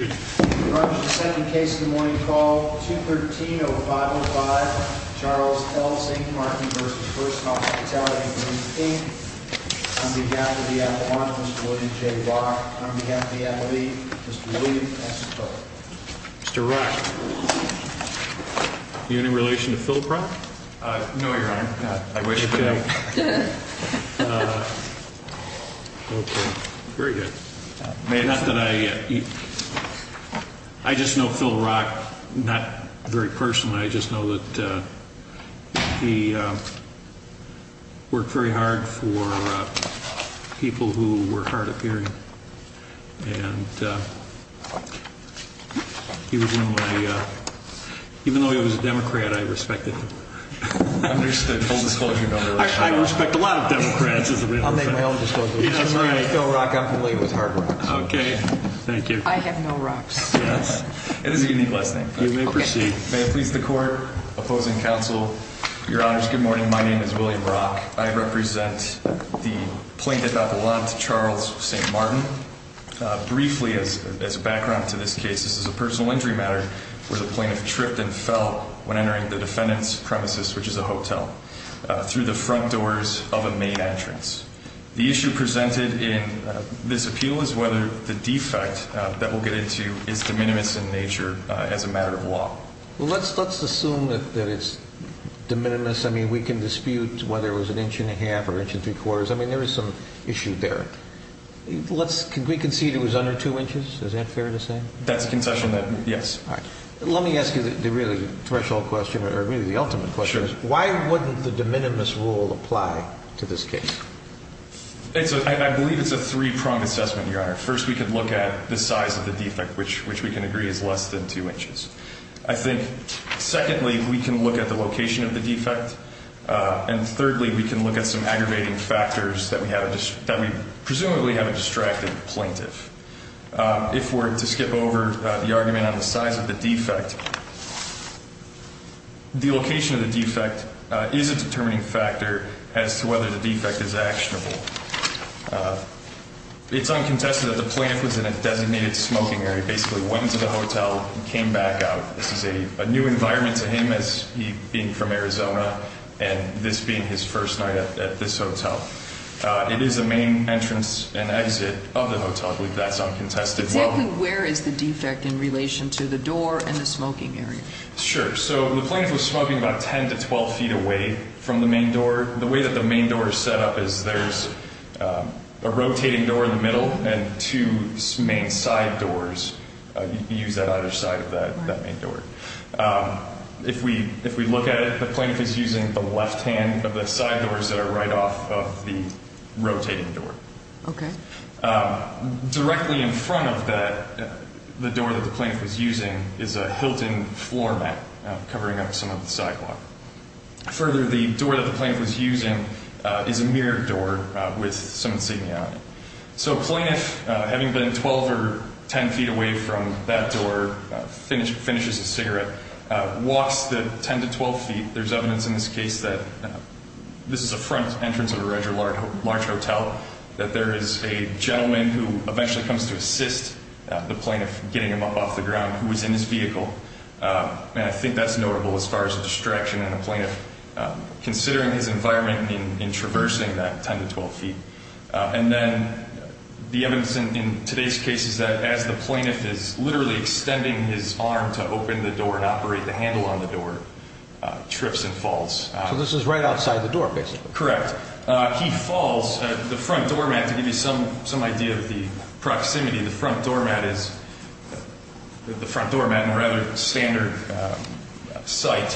On behalf of the Avalon, Mr. William J. Brock, and on behalf of the FLE, Mr. William S. Turley. Mr. Rush, do you have any relation to Philproc? No, Your Honor. I wish I did. Very good. I just know Philrock not very personally. I just know that he worked very hard for people who were hard of hearing. And even though he was a Democrat, I respected him. I respect a lot of Democrats. I'll make my own disclosure. I'm familiar with Philrock. I'm familiar with Hardrock. Okay. Thank you. I have no rocks. It is a unique last name. You may proceed. May it please the Court, opposing counsel, Your Honors, good morning. My name is William Brock. I represent the plaintiff Avalon to Charles St. Martin. Briefly, as a background to this case, this is a personal injury matter where the plaintiff tripped and fell when entering the defendant's premises, which is a hotel, through the front doors of a main entrance. The issue presented in this appeal is whether the defect that we'll get into is de minimis in nature as a matter of law. Well, let's assume that it's de minimis. I mean, we can dispute whether it was an inch and a half or an inch and three quarters. I mean, there is some issue there. Let's concede it was under two inches. Is that fair to say? That's a concession that, yes. Let me ask you the really threshold question, or really the ultimate question. Sure. Why wouldn't the de minimis rule apply to this case? I believe it's a three-pronged assessment, Your Honor. First, we could look at the size of the defect, which we can agree is less than two inches. I think, secondly, we can look at the location of the defect. And thirdly, we can look at some aggravating factors that we presumably have a distracted plaintiff. If we're to skip over the argument on the size of the defect, the location of the defect is a determining factor as to whether the defect is actionable. It's uncontested that the plaintiff was in a designated smoking area, basically went into the hotel and came back out. This is a new environment to him as he being from Arizona and this being his first night at this hotel. It is a main entrance and exit of the hotel. I believe that's uncontested. Exactly where is the defect in relation to the door and the smoking area? Sure. So the plaintiff was smoking about 10 to 12 feet away from the main door. The way that the main door is set up is there's a rotating door in the middle and two main side doors. You can use that either side of that main door. If we look at it, the plaintiff is using the left hand of the side doors that are right off of the rotating door. Okay. Directly in front of the door that the plaintiff was using is a Hilton floor mat covering up some of the sidewalk. Further, the door that the plaintiff was using is a mirrored door with some insignia on it. So a plaintiff, having been 12 or 10 feet away from that door, finishes his cigarette, walks the 10 to 12 feet. There's evidence in this case that this is a front entrance of a larger hotel, that there is a gentleman who eventually comes to assist the plaintiff getting him up off the ground who was in his vehicle. I think that's notable as far as the distraction and the plaintiff considering his environment in traversing that 10 to 12 feet. And then the evidence in today's case is that as the plaintiff is literally extending his arm to open the door and operate the handle on the door, trips and falls. So this is right outside the door, basically. Correct. He falls. The front door mat, to give you some idea of the proximity, the front door mat is a rather standard site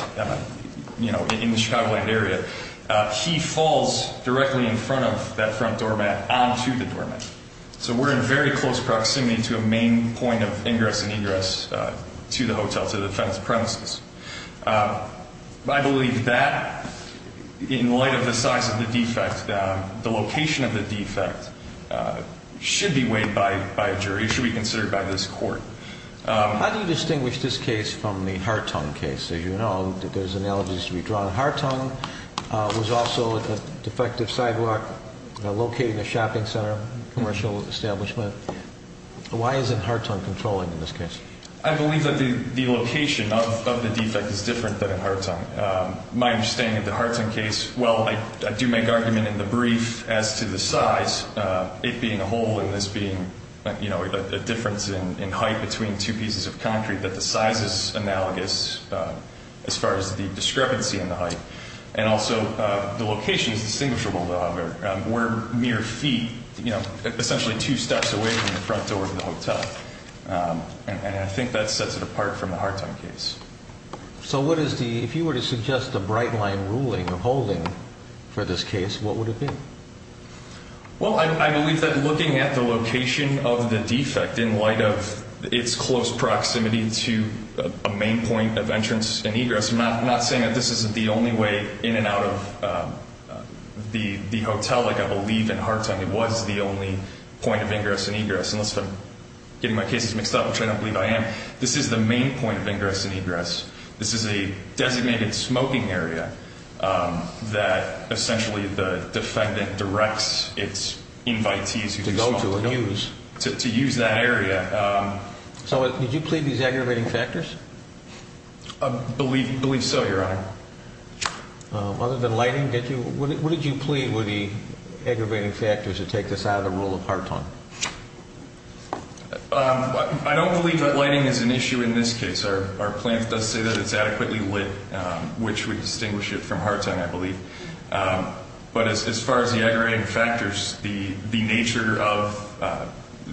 in the Chicagoland area. He falls directly in front of that front door mat onto the door mat. So we're in very close proximity to a main point of ingress and egress to the hotel, to the fenced premises. I believe that, in light of the size of the defect, the location of the defect should be weighed by a jury, should be considered by this court. How do you distinguish this case from the Hartung case? As you know, there's analogies to be drawn. Hartung was also a defective sidewalk located in a shopping center, commercial establishment. Why isn't Hartung controlling in this case? I believe that the location of the defect is different than in Hartung. My understanding of the Hartung case, well, I do make argument in the brief as to the size, it being a hole and this being a difference in height between two pieces of concrete, that the size is analogous as far as the discrepancy in the height. And also, the location is distinguishable, however. We're mere feet, essentially two steps away from the front door of the hotel. And I think that sets it apart from the Hartung case. So if you were to suggest a bright-line ruling or holding for this case, what would it be? Well, I believe that looking at the location of the defect in light of its close proximity to a main point of entrance and egress, I'm not saying that this isn't the only way in and out of the hotel, like I believe in Hartung, it was the only point of ingress and egress, unless I'm getting my cases mixed up, which I don't believe I am. This is the main point of ingress and egress. This is a designated smoking area that essentially the defendant directs its invitees to go to and use. To use that area. So did you plead these aggravating factors? I believe so, Your Honor. Other than lighting, what did you plead were the aggravating factors that take this out of the rule of Hartung? I don't believe that lighting is an issue in this case. Our plan does say that it's adequately lit, which would distinguish it from Hartung, I believe. But as far as the aggravating factors, the nature of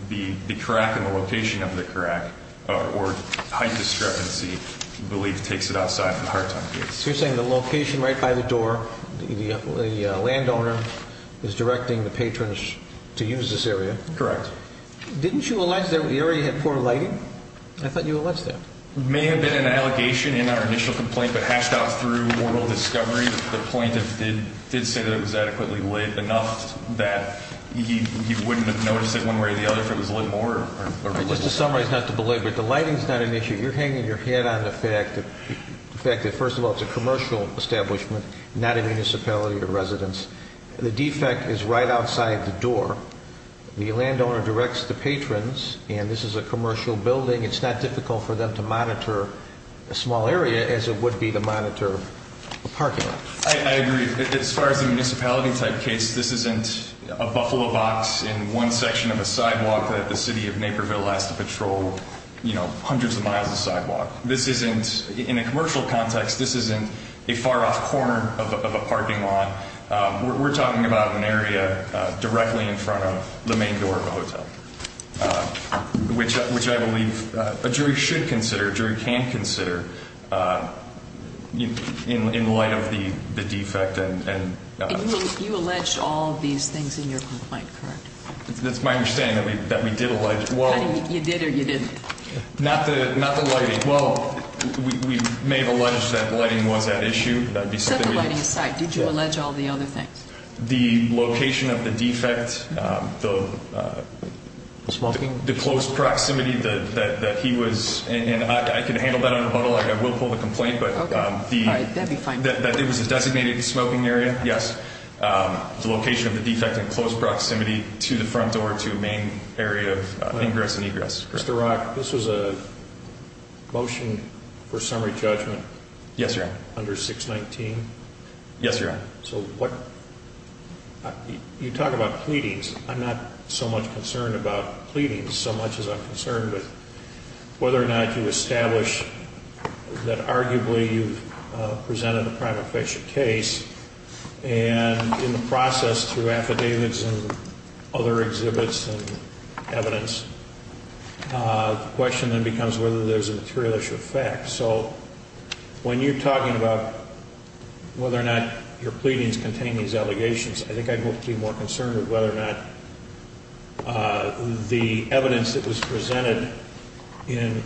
the crack and the location of the crack, or height discrepancy, I believe takes it outside the Hartung case. So you're saying the location right by the door, the landowner is directing the patrons to use this area? Correct. Didn't you allege that the area had poor lighting? I thought you alleged that. It may have been an allegation in our initial complaint, but hashed out through moral discovery, the plaintiff did say that it was adequately lit enough that he wouldn't have noticed it one way or the other if it was lit more. Just to summarize, not to belabor it, the lighting is not an issue. You're hanging your head on the fact that, first of all, it's a commercial establishment, not a municipality or residence. The defect is right outside the door. The landowner directs the patrons, and this is a commercial building. It's not difficult for them to monitor a small area as it would be to monitor a parking lot. I agree. As far as the municipality-type case, this isn't a buffalo box in one section of a sidewalk that the city of Naperville has to patrol hundreds of miles of sidewalk. In a commercial context, this isn't a far-off corner of a parking lot. We're talking about an area directly in front of the main door of a hotel, which I believe a jury should consider, a jury can consider, in light of the defect. You allege all of these things in your complaint, correct? That's my understanding, that we did allege. You did or you didn't? Not the lighting. Well, we may have alleged that lighting was at issue. Set the lighting aside. Did you allege all the other things? The location of the defect. The smoking? The close proximity that he was in. I can handle that on a huddle. I will pull the complaint. That would be fine. That it was a designated smoking area, yes. The location of the defect in close proximity to the front door, to the main area of ingress and egress. Mr. Rock, this was a motion for summary judgment? Yes, Your Honor. Under 619? Yes, Your Honor. So you talk about pleadings. I'm not so much concerned about pleadings so much as I'm concerned with whether or not you establish that arguably you've presented a crime-offensive case. And in the process, through affidavits and other exhibits and evidence, the question then becomes whether there's a material issue of fact. So when you're talking about whether or not your pleadings contain these allegations, I think I'd be more concerned with whether or not the evidence that was presented in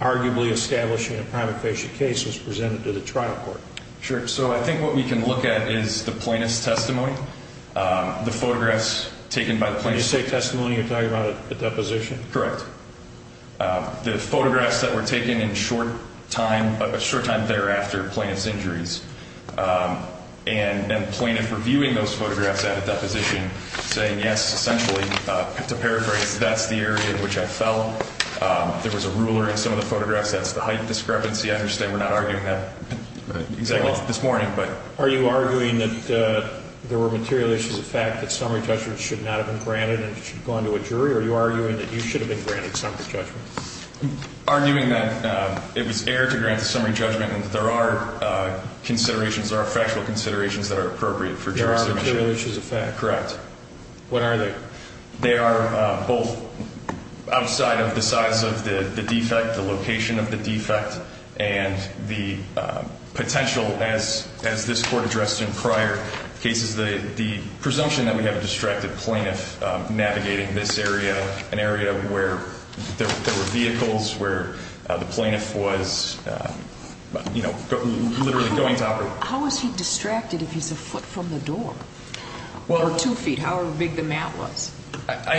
arguably establishing a crime-offensive case was presented to the trial court. Sure. So I think what we can look at is the plaintiff's testimony, the photographs taken by the plaintiff. When you say testimony, you're talking about a deposition? Correct. The photographs that were taken in a short time thereafter, the plaintiff's injuries, and then the plaintiff reviewing those photographs at a deposition saying, yes, essentially, to paraphrase, that's the area in which I fell. There was a ruler in some of the photographs. That's the height discrepancy. I understand we're not arguing that exactly this morning. Are you arguing that there were material issues of fact, that summary judgments should not have been granted and should go on to a jury, or are you arguing that you should have been granted summary judgment? Arguing that it was air to grant the summary judgment and that there are considerations, there are factual considerations that are appropriate for jurisdiction. There are material issues of fact. Correct. What are they? They are both outside of the size of the defect, the location of the defect, and the potential, as this Court addressed in prior cases, the presumption that we have a distracted plaintiff navigating this area, an area where there were vehicles, where the plaintiff was literally going to operate. How is he distracted if he's a foot from the door? Or two feet, however big the mat was. I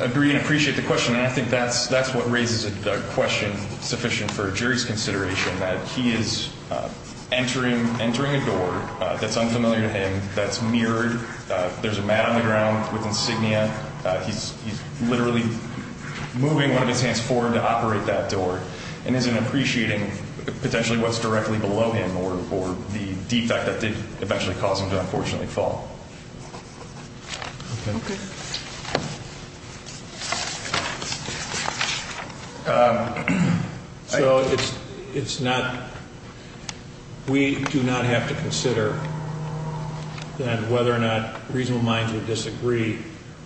agree and appreciate the question, and I think that's what raises a question sufficient for a jury's consideration, that he is entering a door that's unfamiliar to him, that's mirrored. There's a mat on the ground with insignia. He's literally moving one of his hands forward to operate that door and isn't appreciating potentially what's directly below him or the defect that did eventually cause him to unfortunately fall. Okay. So it's not we do not have to consider that whether or not reasonable minds would disagree.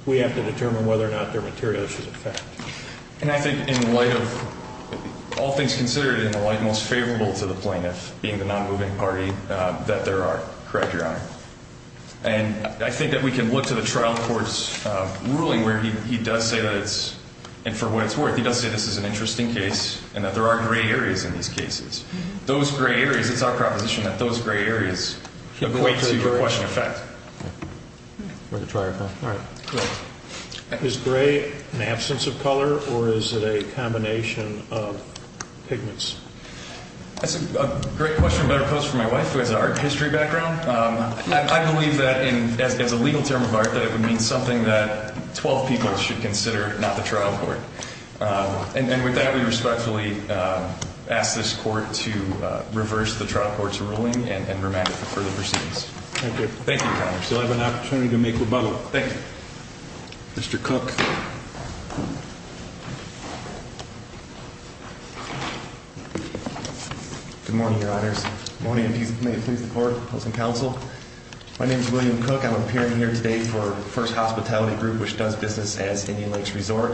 We have to determine whether or not they're material issues of fact. And I think in light of all things considered, and most favorable to the plaintiff being the non-moving party, that there are. Correct, Your Honor. And I think that we can look to the trial court's ruling where he does say that it's, and for what it's worth, he does say this is an interesting case and that there are gray areas in these cases. Those gray areas, it's our proposition that those gray areas equate to the question of fact. All right. Is gray an absence of color or is it a combination of pigments? That's a great question better posed for my wife, who has an art history background. I believe that as a legal term of art, that it would mean something that 12 people should consider, not the trial court. And with that, we respectfully ask this court to reverse the trial court's ruling and remand it for further proceedings. Thank you. Thank you, Your Honor. We still have an opportunity to make rebuttal. Thank you. Mr. Cook. Good morning, Your Honors. Good morning, and may it please the Court, opposing counsel. My name is William Cook. I'm appearing here today for First Hospitality Group, which does business as Indian Lakes Resort.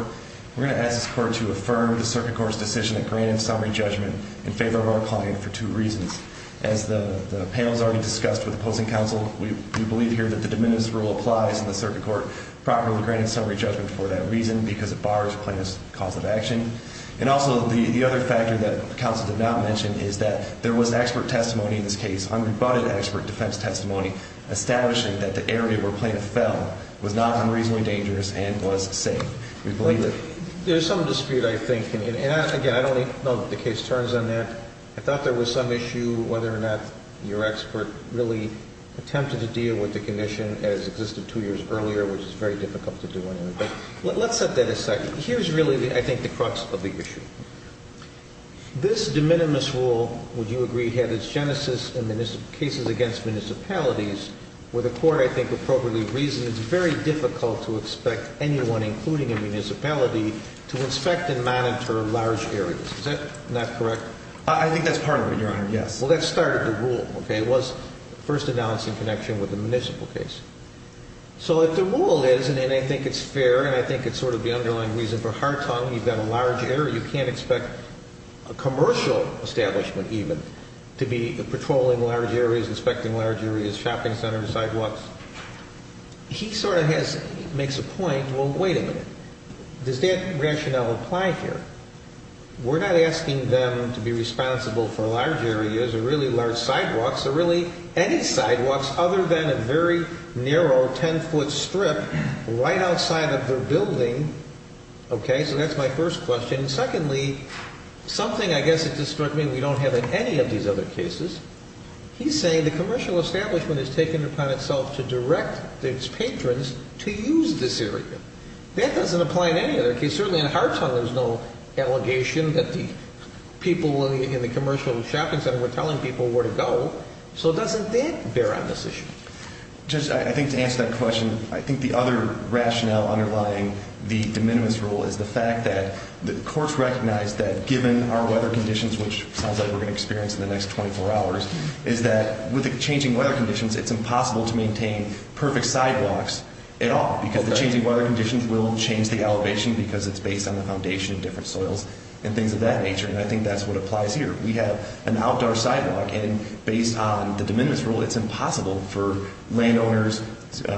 We're going to ask this court to affirm the circuit court's decision that granted summary judgment in favor of our client for two reasons. As the panel has already discussed with opposing counsel, we believe here that the de minimis rule applies and the circuit court properly granted summary judgment for that reason because it bars plaintiff's cause of action. And also, the other factor that counsel did not mention is that there was expert testimony in this case, unrebutted expert defense testimony, establishing that the area where plaintiff fell was not unreasonably dangerous and was safe. We believe that. There's some dispute, I think, and again, I don't even know that the case turns on that. I thought there was some issue whether or not your expert really attempted to deal with the condition as existed two years earlier, which is very difficult to do anyway. But let's set that aside. Here's really, I think, the crux of the issue. This de minimis rule, would you agree, had its genesis in cases against municipalities where the court, I think, appropriately reasoned it's very difficult to expect anyone, including a municipality, to inspect and monitor large areas. Is that not correct? I think that's part of it, Your Honor. Yes. Well, that started the rule, okay? It was first announced in connection with the municipal case. So if the rule is, and I think it's fair, and I think it's sort of the underlying reason for Hartung, you've got a large area, you can't expect a commercial establishment even to be patrolling large areas, inspecting large areas, shopping centers, sidewalks. He sort of makes a point, well, wait a minute. Does that rationale apply here? We're not asking them to be responsible for large areas or really large sidewalks or really any sidewalks other than a very narrow 10-foot strip right outside of their building. Okay? So that's my first question. Secondly, something I guess that just struck me we don't have in any of these other cases. He's saying the commercial establishment has taken it upon itself to direct its patrons to use this area. That doesn't apply in any other case. And certainly in Hartung there's no allegation that the people in the commercial shopping center were telling people where to go. So doesn't that bear on this issue? Judge, I think to answer that question, I think the other rationale underlying the de minimis rule is the fact that the courts recognized that given our weather conditions, which sounds like we're going to experience in the next 24 hours, is that with the changing weather conditions it's impossible to maintain perfect sidewalks at all because the changing weather conditions will change the elevation because it's based on the foundation of different soils and things of that nature. And I think that's what applies here. We have an outdoor sidewalk, and based on the de minimis rule, it's impossible for landowners,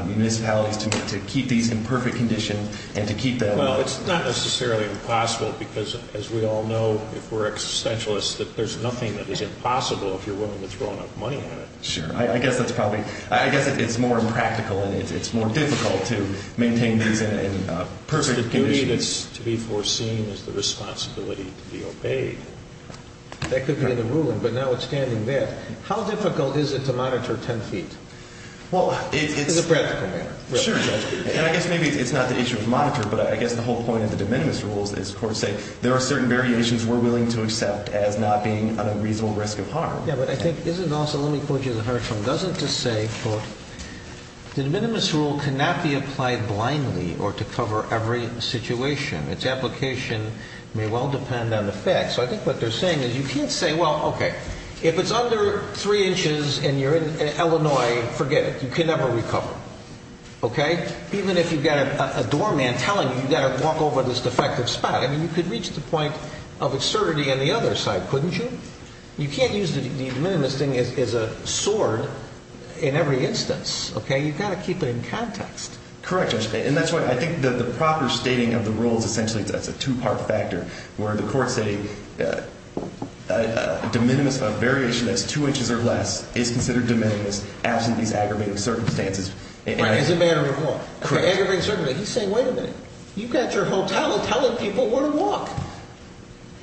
municipalities to keep these in perfect condition and to keep them. Well, it's not necessarily impossible because, as we all know, if we're existentialists, there's nothing that is impossible if you're willing to throw enough money at it. Sure. I guess it's more impractical and it's more difficult to maintain these in perfect condition. The duty that's to be foreseen is the responsibility to be obeyed. That could be the ruling, but now it's standing there. How difficult is it to monitor 10 feet in a practical manner? Sure. And I guess maybe it's not the issue of monitor, but I guess the whole point of the de minimis rule is the courts say there are certain variations we're willing to accept as not being a reasonable risk of harm. Yeah, but I think this is also, let me quote you the harsh one. It doesn't just say, quote, the de minimis rule cannot be applied blindly or to cover every situation. Its application may well depend on the fact. So I think what they're saying is you can't say, well, okay, if it's under three inches and you're in Illinois, forget it. You can never recover. Okay? Even if you've got a doorman telling you you've got to walk over this defective spot. I mean, you could reach the point of absurdity on the other side, couldn't you? You can't use the de minimis thing as a sword in every instance. Okay? You've got to keep it in context. Correct. And that's why I think that the proper stating of the rules, essentially, that's a two-part factor where the courts say de minimis, a variation that's two inches or less, is considered de minimis absent these aggravating circumstances. Right. As a matter of law. Correct. Aggravating circumstances. He's saying, wait a minute. You've got your hotel telling people where to walk.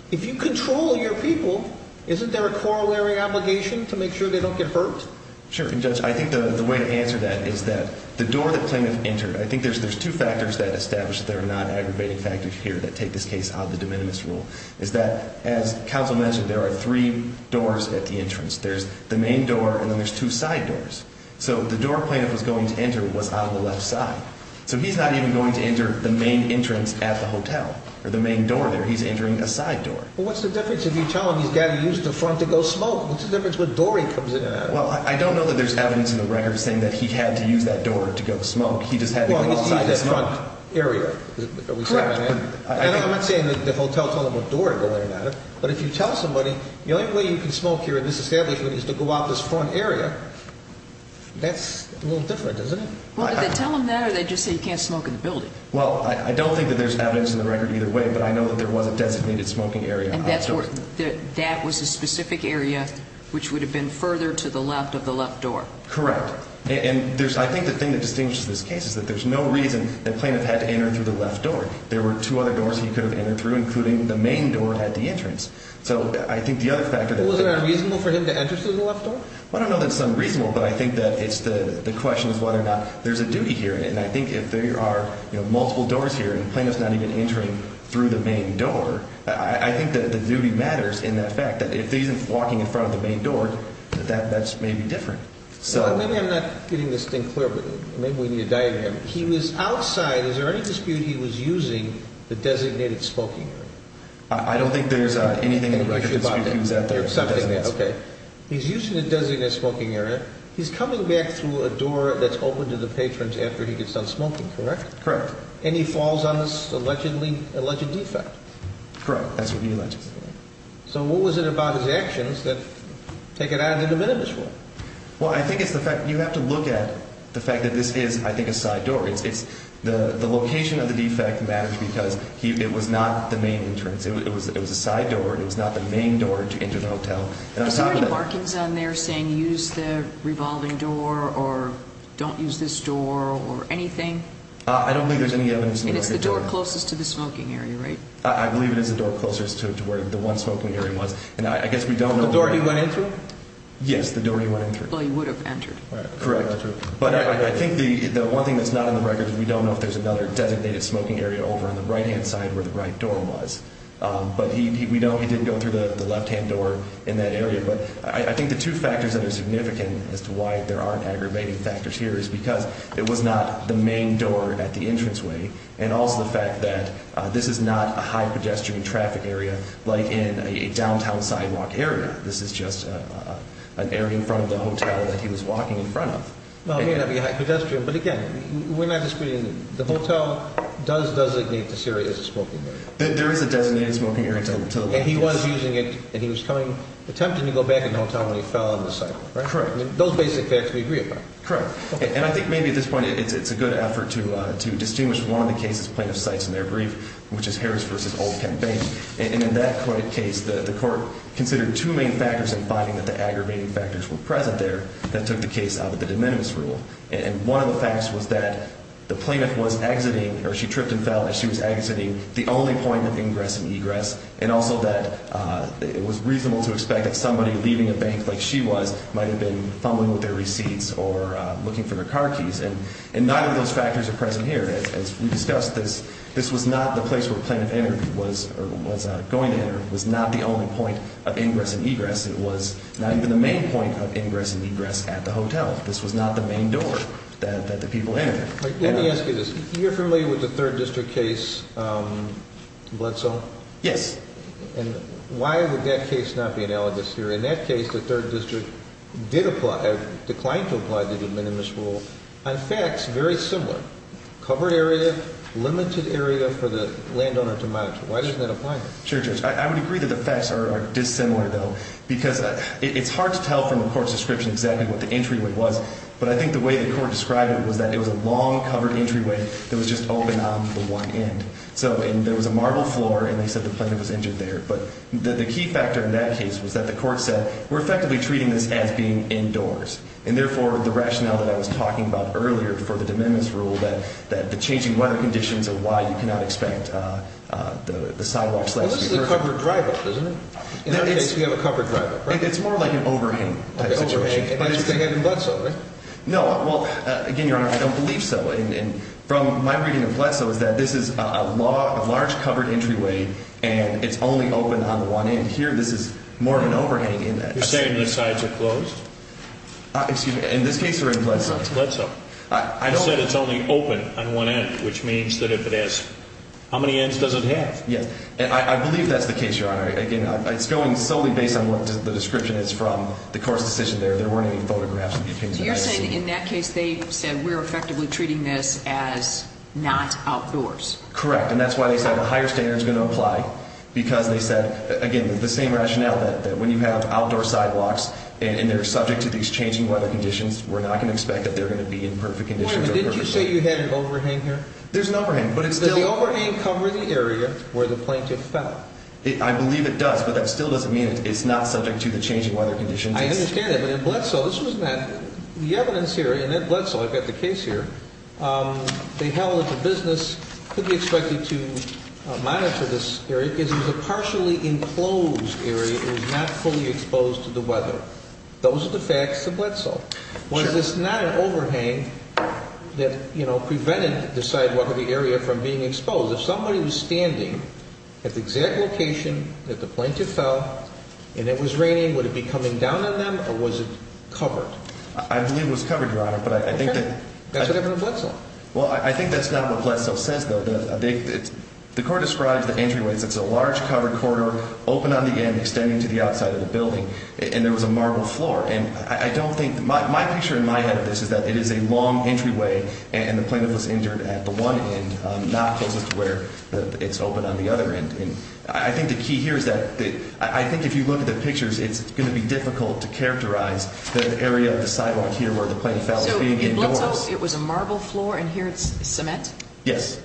If you control your people, isn't there a corollary obligation to make sure they don't get hurt? Sure. And, Judge, I think the way to answer that is that the door the plaintiff entered, I think there's two factors that establish that there are not aggravating factors here that take this case out of the de minimis rule, is that, as counsel mentioned, there are three doors at the entrance. There's the main door and then there's two side doors. So the door the plaintiff was going to enter was on the left side. So he's not even going to enter the main entrance at the hotel or the main door there. He's entering a side door. Well, what's the difference if you tell him he's got to use the front to go smoke? What's the difference when Dory comes in and out? Well, I don't know that there's evidence in the record saying that he had to use that door to go smoke. He just had to go outside his front area. Correct. I'm not saying that the hotel told him what door to go in and out of, but if you tell somebody the only way you can smoke here in this establishment is to go out this front area, that's a little different, isn't it? Well, did they tell him that or did they just say he can't smoke in the building? Well, I don't think that there's evidence in the record either way, but I know that there was a designated smoking area outside. And that was a specific area which would have been further to the left of the left door? Correct. And I think the thing that distinguishes this case is that there's no reason that the plaintiff had to enter through the left door. There were two other doors he could have entered through, including the main door at the entrance. So I think the other factor that the plaintiff... Well, isn't it unreasonable for him to enter through the left door? Well, I don't know that it's unreasonable, but I think that the question is whether or not there's a duty here. And I think if there are multiple doors here and the plaintiff's not even entering through the main door, I think that the duty matters in that fact that if he isn't walking in front of the main door, that's maybe different. Maybe I'm not getting this thing clear, but maybe we need a diagram. He was outside. Is there any dispute he was using the designated smoking area? I don't think there's anything in the record that disputes who was out there. Okay. He's using the designated smoking area. He's coming back through a door that's open to the patrons after he gets done smoking, correct? Correct. And he falls on this alleged defect. Correct. That's what he alleges. So what was it about his actions that take it out of the de minimis rule? Well, I think it's the fact you have to look at the fact that this is, I think, a side door. The location of the defect matters because it was not the main entrance. It was a side door. It was not the main door to enter the hotel. Is there any markings on there saying use the revolving door or don't use this door or anything? I don't think there's any evidence in the record. And it's the door closest to the smoking area, right? I believe it is the door closest to where the one smoking area was. And I guess we don't know. The door he went in through? Yes, the door he went in through. Well, he would have entered. Correct. But I think the one thing that's not in the record is we don't know if there's another designated smoking area over on the right-hand side where the right door was. But we know he did go through the left-hand door in that area. But I think the two factors that are significant as to why there aren't aggravating factors here is because it was not the main door at the entranceway and also the fact that this is not a high-pedestrian traffic area like in a downtown sidewalk area. This is just an area in front of the hotel that he was walking in front of. Well, it may not be high-pedestrian. But, again, we're not disputing it. The hotel does lignate to Syria as a smoking area. There is a designated smoking area to the left. And he was using it, and he was attempting to go back in the hotel when he fell on the sidewalk. Correct. Those basic facts we agree upon. Correct. And I think maybe at this point it's a good effort to distinguish one of the cases plaintiffs cites in their brief, which is Harris v. Old Kent Bank. And in that case, the court considered two main factors in finding that the aggravating factors were present there that took the case out of the de minimis rule. And one of the facts was that the plaintiff was exiting, or she tripped and fell as she was exiting, the only point of ingress and egress, and also that it was reasonable to expect that somebody leaving a bank like she was might have been fumbling with their receipts or looking for their car keys. And neither of those factors are present here. As we discussed, this was not the place where the plaintiff entered or was going to enter. It was not the only point of ingress and egress. It was not even the main point of ingress and egress at the hotel. This was not the main door that the people entered. Let me ask you this. You're familiar with the 3rd District case, Bledsoe? Yes. And why would that case not be analogous here? In that case, the 3rd District declined to apply the de minimis rule on facts very similar, covered area, limited area for the landowner to monitor. Why doesn't that apply here? Sure, Judge. I would agree that the facts are dissimilar, though, because it's hard to tell from the court's description exactly what the entryway was, but I think the way the court described it was that it was a long, covered entryway that was just open on the one end. So there was a marble floor, and they said the plaintiff was entered there. But the key factor in that case was that the court said we're effectively treating this as being indoors, and therefore the rationale that I was talking about earlier for the de minimis rule, that the changing weather conditions are why you cannot expect the sidewalks to be perfect. Well, this is a covered drive-up, isn't it? In that case, we have a covered drive-up, right? It's more like an overhang-type situation. But it's the same in Bledsoe, right? No. Well, again, Your Honor, I don't believe so. And from my reading of Bledsoe is that this is a large, covered entryway, and it's only open on one end. Here, this is more of an overhang in that. You're saying the sides are closed? Excuse me. In this case, we're in Bledsoe. Bledsoe. I said it's only open on one end, which means that if it is, how many ends does it have? Yes. And I believe that's the case, Your Honor. Again, it's going solely based on what the description is from the court's decision there. There weren't any photographs. So you're saying in that case they said we're effectively treating this as not outdoors? Correct. And that's why they said a higher standard is going to apply because they said, again, the same rationale that when you have outdoor sidewalks and they're subject to these changing weather conditions, we're not going to expect that they're going to be in perfect conditions. Wait a minute. Didn't you say you had an overhang here? There's an overhang. Did the overhang cover the area where the plaintiff fell? I believe it does, but that still doesn't mean it's not subject to the changing weather conditions. I understand that. But in Bledsoe, this was not the evidence here in that Bledsoe. I've got the case here. They held that the business could be expected to monitor this area because it was a partially enclosed area. It was not fully exposed to the weather. Those are the facts of Bledsoe. Was this not an overhang that prevented the sidewalk or the area from being exposed? If somebody was standing at the exact location that the plaintiff fell and it was raining, would it be coming down on them or was it covered? I believe it was covered, Your Honor. Okay. That's what happened in Bledsoe. Well, I think that's not what Bledsoe says, though. The court describes the entryway as it's a large, covered corridor, open on the end, extending to the outside of the building, and there was a marble floor. And I don't think my picture in my head of this is that it is a long entryway and the plaintiff was injured at the one end, not closest to where it's open on the other end. And I think the key here is that I think if you look at the pictures, it's going to be difficult to characterize the area of the sidewalk here where the plaintiff fell as being indoors. So in Bledsoe, it was a marble floor, and here it's cement? Yes.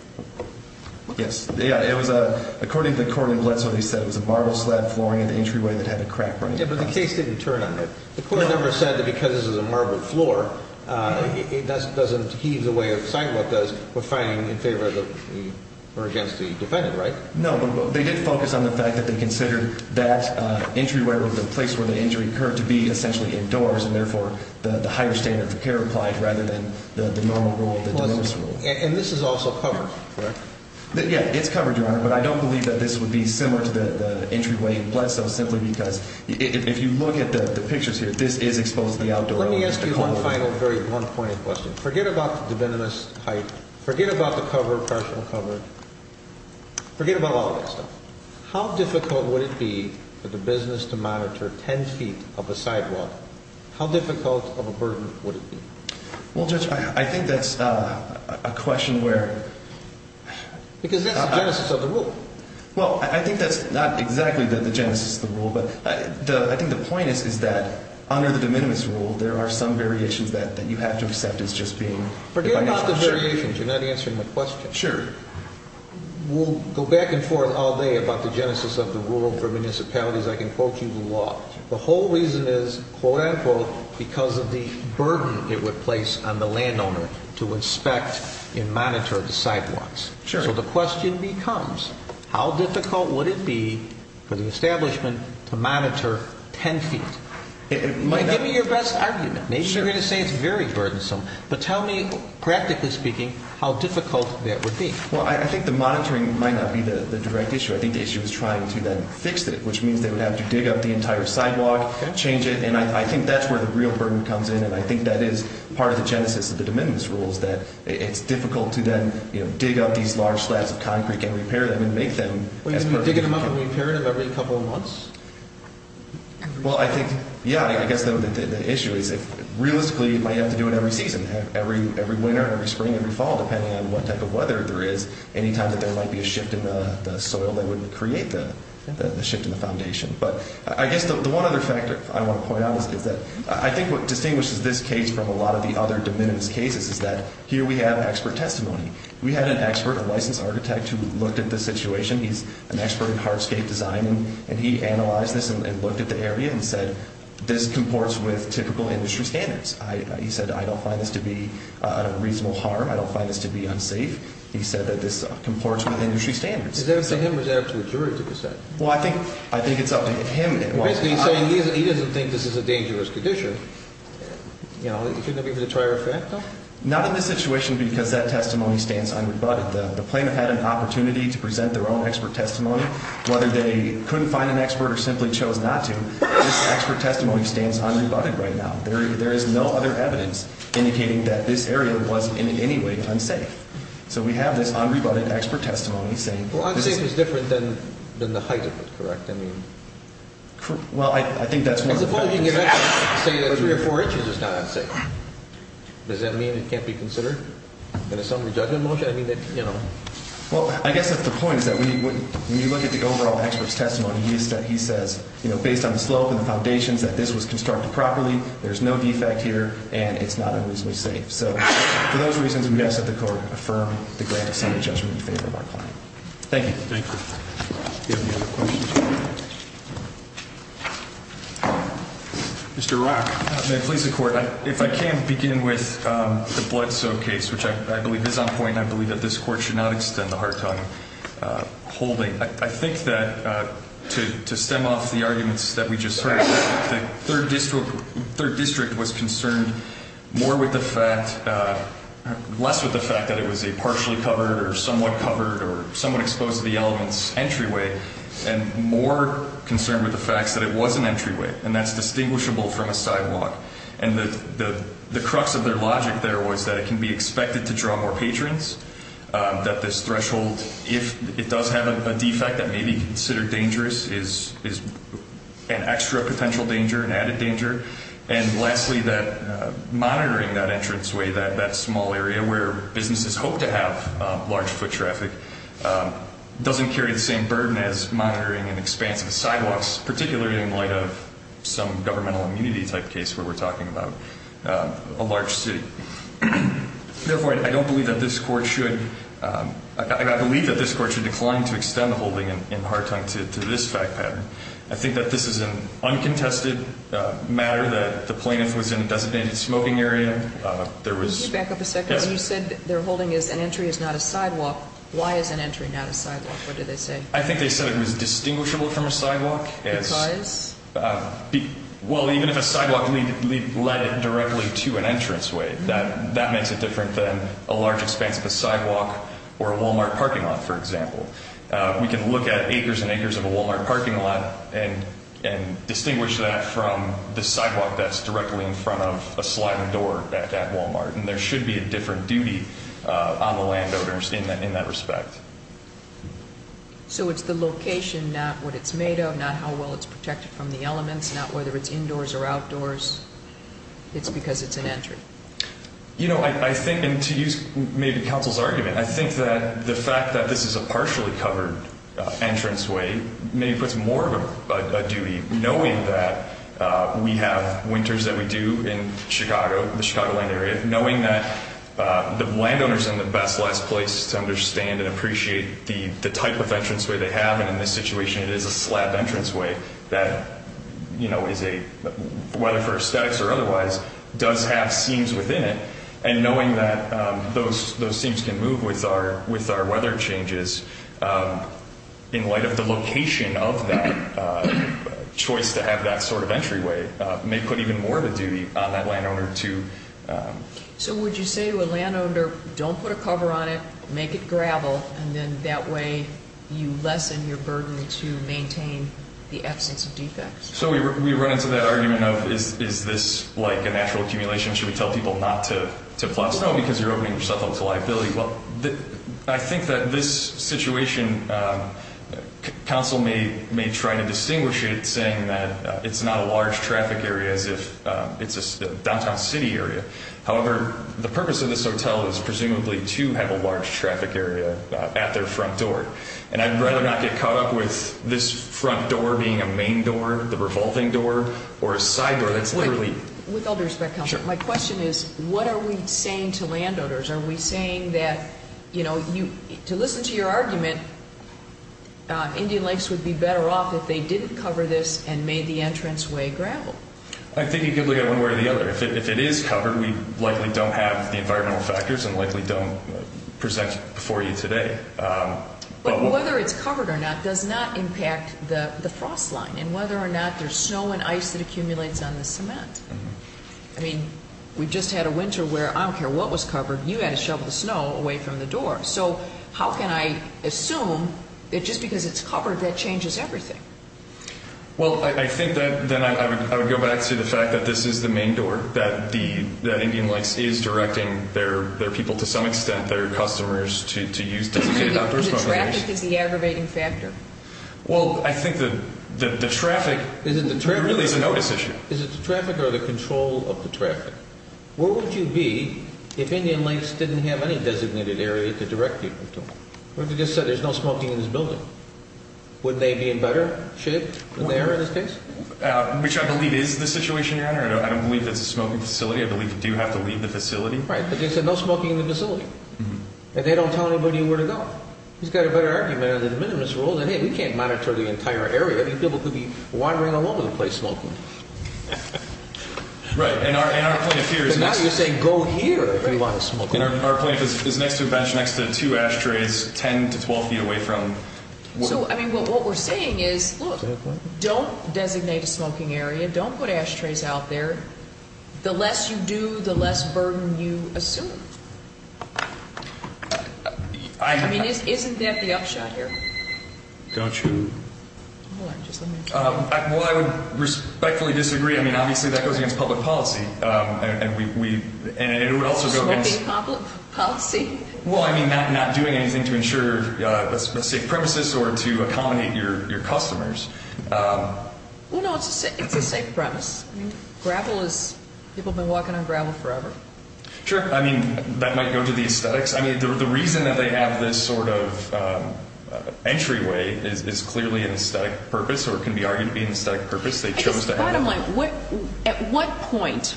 Yes. According to the court in Bledsoe, they said it was a marble slab flooring at the entryway that had a crack running. Yeah, but the case didn't turn on that. The court never said that because this is a marble floor, it doesn't heave the way a sidewalk does. We're fighting in favor of or against the defendant, right? No, but they did focus on the fact that they considered that entryway was the place where the injury occurred to be essentially indoors, and therefore the higher standard of care applied rather than the normal rule, the demerits rule. And this is also covered, correct? Yeah, it's covered, Your Honor. But I don't believe that this would be similar to the entryway in Bledsoe simply because if you look at the pictures here, this is exposed to the outdoor element. Let me ask you one final, very one-pointed question. Forget about the defendant's height. Forget about the cover, partial cover. Forget about all that stuff. How difficult would it be for the business to monitor 10 feet of a sidewalk? How difficult of a burden would it be? Well, Judge, I think that's a question where... Because that's the genesis of the rule. Well, I think that's not exactly the genesis of the rule, but I think the point is that under the de minimis rule, there are some variations that you have to accept as just being... Forget about the variations. You're not answering my question. Sure. We'll go back and forth all day about the genesis of the rule for municipalities. I can quote you the law. The whole reason is, quote-unquote, because of the burden it would place on the landowner to inspect and monitor the sidewalks. So the question becomes, how difficult would it be for the establishment to monitor 10 feet? Give me your best argument. Maybe you're going to say it's very burdensome, but tell me, practically speaking, how difficult that would be. Well, I think the monitoring might not be the direct issue. I think the issue is trying to then fix it, which means they would have to dig up the entire sidewalk, change it, and I think that's where the real burden comes in, and I think that is part of the genesis of the de minimis rule, is that it's difficult to then dig up these large slabs of concrete and repair them and make them as perfect as you can. Are you going to be digging them up and repairing them every couple of months? Well, I think, yeah, I guess the issue is realistically it might have to do with every season, every winter, every spring, every fall, depending on what type of weather there is. Any time that there might be a shift in the soil, that would create the shift in the foundation. But I guess the one other factor I want to point out is that I think what distinguishes this case from a lot of the other de minimis cases is that here we have expert testimony. We had an expert, a licensed architect, who looked at this situation. He's an expert in hardscape design, and he analyzed this and looked at the area and said, this comports with typical industry standards. He said, I don't find this to be a reasonable harm. I don't find this to be unsafe. He said that this comports with industry standards. Is that what he said or was that up to the jury to decide? Well, I think it's up to him. Basically he's saying he doesn't think this is a dangerous condition. Shouldn't it be for the trier effect, though? Not in this situation because that testimony stands unrebutted. The plaintiff had an opportunity to present their own expert testimony. Whether they couldn't find an expert or simply chose not to, this expert testimony stands unrebutted right now. There is no other evidence indicating that this area was in any way unsafe. So we have this unrebutted expert testimony saying this is unsafe. Well, unsafe is different than the height of it, correct? Well, I think that's one of the factors. I suppose you could say that three or four inches is not unsafe. Does that mean it can't be considered in a summary judgment motion? Well, I guess that's the point is that when you look at the overall expert's testimony, he says based on the slope and the foundations that this was constructed properly, there's no defect here, and it's not unusually safe. So for those reasons, we ask that the court affirm the grant of summary judgment in favor of our client. Thank you. Thank you. Do you have any other questions? Mr. Rock. May it please the court, if I can begin with the blood soak case, which I believe is on point, and I believe that this court should not extend the hard time holding. I think that to stem off the arguments that we just heard, the third district was concerned more with the fact, less with the fact, that it was a partially covered or somewhat covered or somewhat exposed to the elements entryway, and more concerned with the fact that it was an entryway, and that's distinguishable from a sidewalk. And the crux of their logic there was that it can be expected to draw more patrons, that this threshold, if it does have a defect that may be considered dangerous, is an extra potential danger, an added danger. And lastly, that monitoring that entranceway, that small area where businesses hope to have large foot traffic, doesn't carry the same burden as monitoring an expansive sidewalks, particularly in light of some governmental immunity type case where we're talking about a large city. Therefore, I don't believe that this court should, I believe that this court should decline to extend the holding in hard time to this fact pattern. I think that this is an uncontested matter that the plaintiff was in a designated smoking area. Can you back up a second? Yes. You said their holding is an entry is not a sidewalk. Why is an entry not a sidewalk? What did they say? I think they said it was distinguishable from a sidewalk. Because? Well, even if a sidewalk led directly to an entranceway, that makes it different than a large expansive sidewalk or a Walmart parking lot, for example. We can look at acres and acres of a Walmart parking lot and distinguish that from the sidewalk that's directly in front of a sliding door at Walmart. And there should be a different duty on the landowners in that respect. So it's the location, not what it's made of, not how well it's protected from the elements, not whether it's indoors or outdoors. It's because it's an entry. You know, I think, and to use maybe counsel's argument, I think that the fact that this is a partially covered entranceway maybe puts more of a duty, knowing that we have winters that we do in Chicago, the Chicagoland area, knowing that the landowners are in the best, last place to understand and appreciate the type of entranceway they have. And in this situation, it is a slab entranceway that, you know, whether for aesthetics or otherwise, does have seams within it. And knowing that those seams can move with our weather changes, in light of the location of that choice to have that sort of entryway, may put even more of a duty on that landowner to... So would you say to a landowner, don't put a cover on it, make it gravel, and then that way you lessen your burden to maintain the absence of defects? So we run into that argument of, is this like a natural accumulation? Should we tell people not to plaster? No, because you're opening yourself up to liability. Well, I think that this situation, counsel may try to distinguish it saying that it's not a large traffic area as if it's a downtown city area. However, the purpose of this hotel is presumably to have a large traffic area at their front door. And I'd rather not get caught up with this front door being a main door, the revolving door, or a side door. With all due respect, counsel, my question is, what are we saying to landowners? Are we saying that, you know, to listen to your argument, Indian Lakes would be better off if they didn't cover this and made the entranceway gravel? I think you could look at it one way or the other. If it is covered, we likely don't have the environmental factors and likely don't present it before you today. But whether it's covered or not does not impact the frost line. And whether or not there's snow and ice that accumulates on the cement. I mean, we just had a winter where I don't care what was covered. You had to shovel the snow away from the door. So how can I assume that just because it's covered, that changes everything? Well, I think that then I would go back to the fact that this is the main door, that Indian Lakes is directing their people to some extent, their customers, to use designated outdoor smoking areas. And the traffic is the aggravating factor. Well, I think that the traffic really is a notice issue. Is it the traffic or the control of the traffic? Where would you be if Indian Lakes didn't have any designated area to direct people to? What if they just said there's no smoking in this building? Wouldn't they be in better shape than they are in this case? Which I believe is the situation, Your Honor. I don't believe it's a smoking facility. I believe you do have to leave the facility. Right, but they said no smoking in the facility. And they don't tell anybody where to go. Well, he's got a better argument under the minimus rule than, hey, we can't monitor the entire area. These people could be wandering along the place smoking. Right. And our point of fear is next to a batch next to two ashtrays 10 to 12 feet away from work. So, I mean, what we're saying is, look, don't designate a smoking area. Don't put ashtrays out there. The less you do, the less burden you assume. I mean, isn't that the upshot here? Don't you? Hold on, just let me. Well, I would respectfully disagree. I mean, obviously that goes against public policy. And it would also go against. What do you mean public policy? Well, I mean, not doing anything to ensure a safe premises or to accommodate your customers. Well, no, it's a safe premise. I mean, gravel is, people have been walking on gravel forever. Sure. I mean, that might go to the aesthetics. I mean, the reason that they have this sort of entryway is clearly an aesthetic purpose or can be argued to be an aesthetic purpose. They chose to have it. Bottom line, at what point,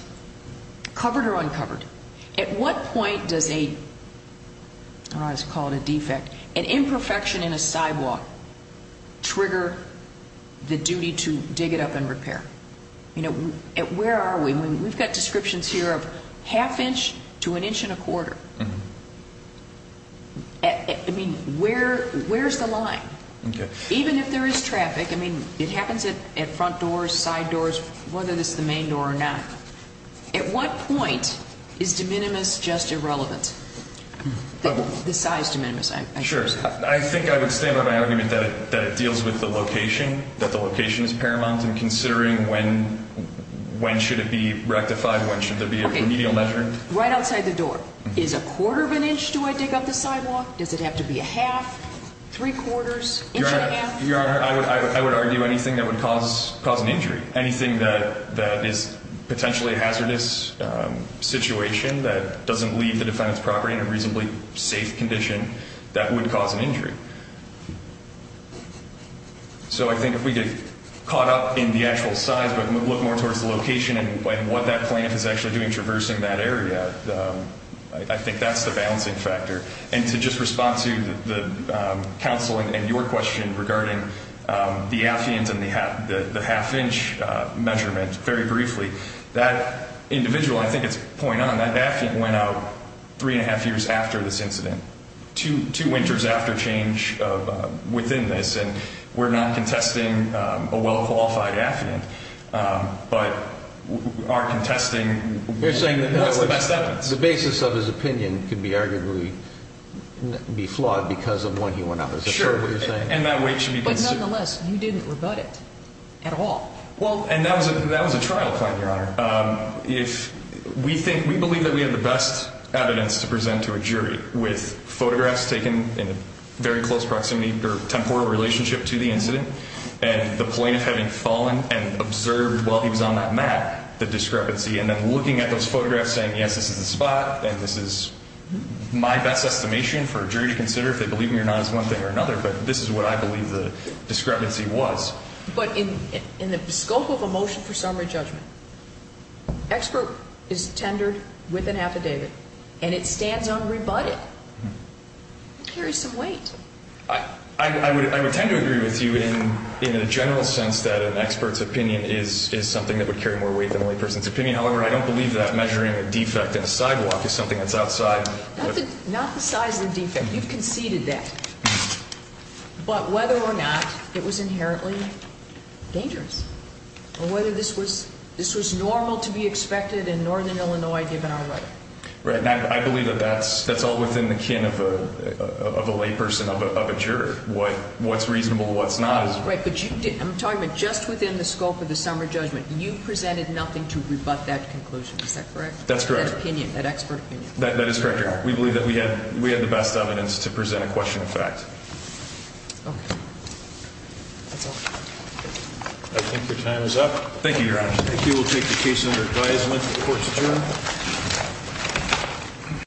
covered or uncovered, at what point does a, I don't know how to call it, a defect, an imperfection in a sidewalk trigger the duty to dig it up and repair? You know, where are we? I mean, we've got descriptions here of half inch to an inch and a quarter. I mean, where's the line? Even if there is traffic, I mean, it happens at front doors, side doors, whether it's the main door or not. At what point is de minimis just irrelevant? The size de minimis, I guess. Sure. I think I would stand by my argument that it deals with the location, that the location is paramount in considering when should it be rectified, when should there be a remedial measure. Right outside the door. Is a quarter of an inch, do I dig up the sidewalk? Does it have to be a half, three quarters, inch and a half? Your Honor, I would argue anything that would cause an injury, anything that is potentially a hazardous situation that doesn't leave the defendant's property in a reasonably safe condition, that would cause an injury. So I think if we get caught up in the actual size but look more towards the location and what that plant is actually doing, traversing that area, I think that's the balancing factor. And to just respond to the counsel and your question regarding the affiant and the half inch measurement, very briefly, that individual, I think it's a point on, that affiant went out three and a half years after this incident. Two winters after change within this. And we're not contesting a well-qualified affiant, but are contesting what's the best evidence. You're saying that the basis of his opinion could arguably be flawed because of when he went out. Sure. Is that what you're saying? And that weight should be considered. But nonetheless, you didn't rebut it at all. And that was a trial claim, Your Honor. We believe that we have the best evidence to present to a jury, with photographs taken in a very close proximity or temporal relationship to the incident, and the plaintiff having fallen and observed while he was on that mat the discrepancy, and then looking at those photographs saying, yes, this is the spot, and this is my best estimation for a jury to consider if they believe me or not is one thing or another. But this is what I believe the discrepancy was. But in the scope of a motion for summary judgment, expert is tendered with an affidavit, and it stands unrebutted. It carries some weight. I would tend to agree with you in the general sense that an expert's opinion is something that would carry more weight than a layperson's opinion. However, I don't believe that measuring a defect in a sidewalk is something that's outside. Not the size of the defect. You've conceded that. But whether or not it was inherently dangerous, or whether this was normal to be expected in northern Illinois given our weather. Right. And I believe that that's all within the kin of a layperson of a juror, what's reasonable, what's not. Right. But I'm talking about just within the scope of the summary judgment. You presented nothing to rebut that conclusion. Is that correct? That opinion, that expert opinion. That is correct, Your Honor. We believe that we had the best evidence to present a question of fact. Okay. That's all. I think your time is up. Thank you, Your Honor. Thank you. We'll take the case under advisement. The court's adjourned.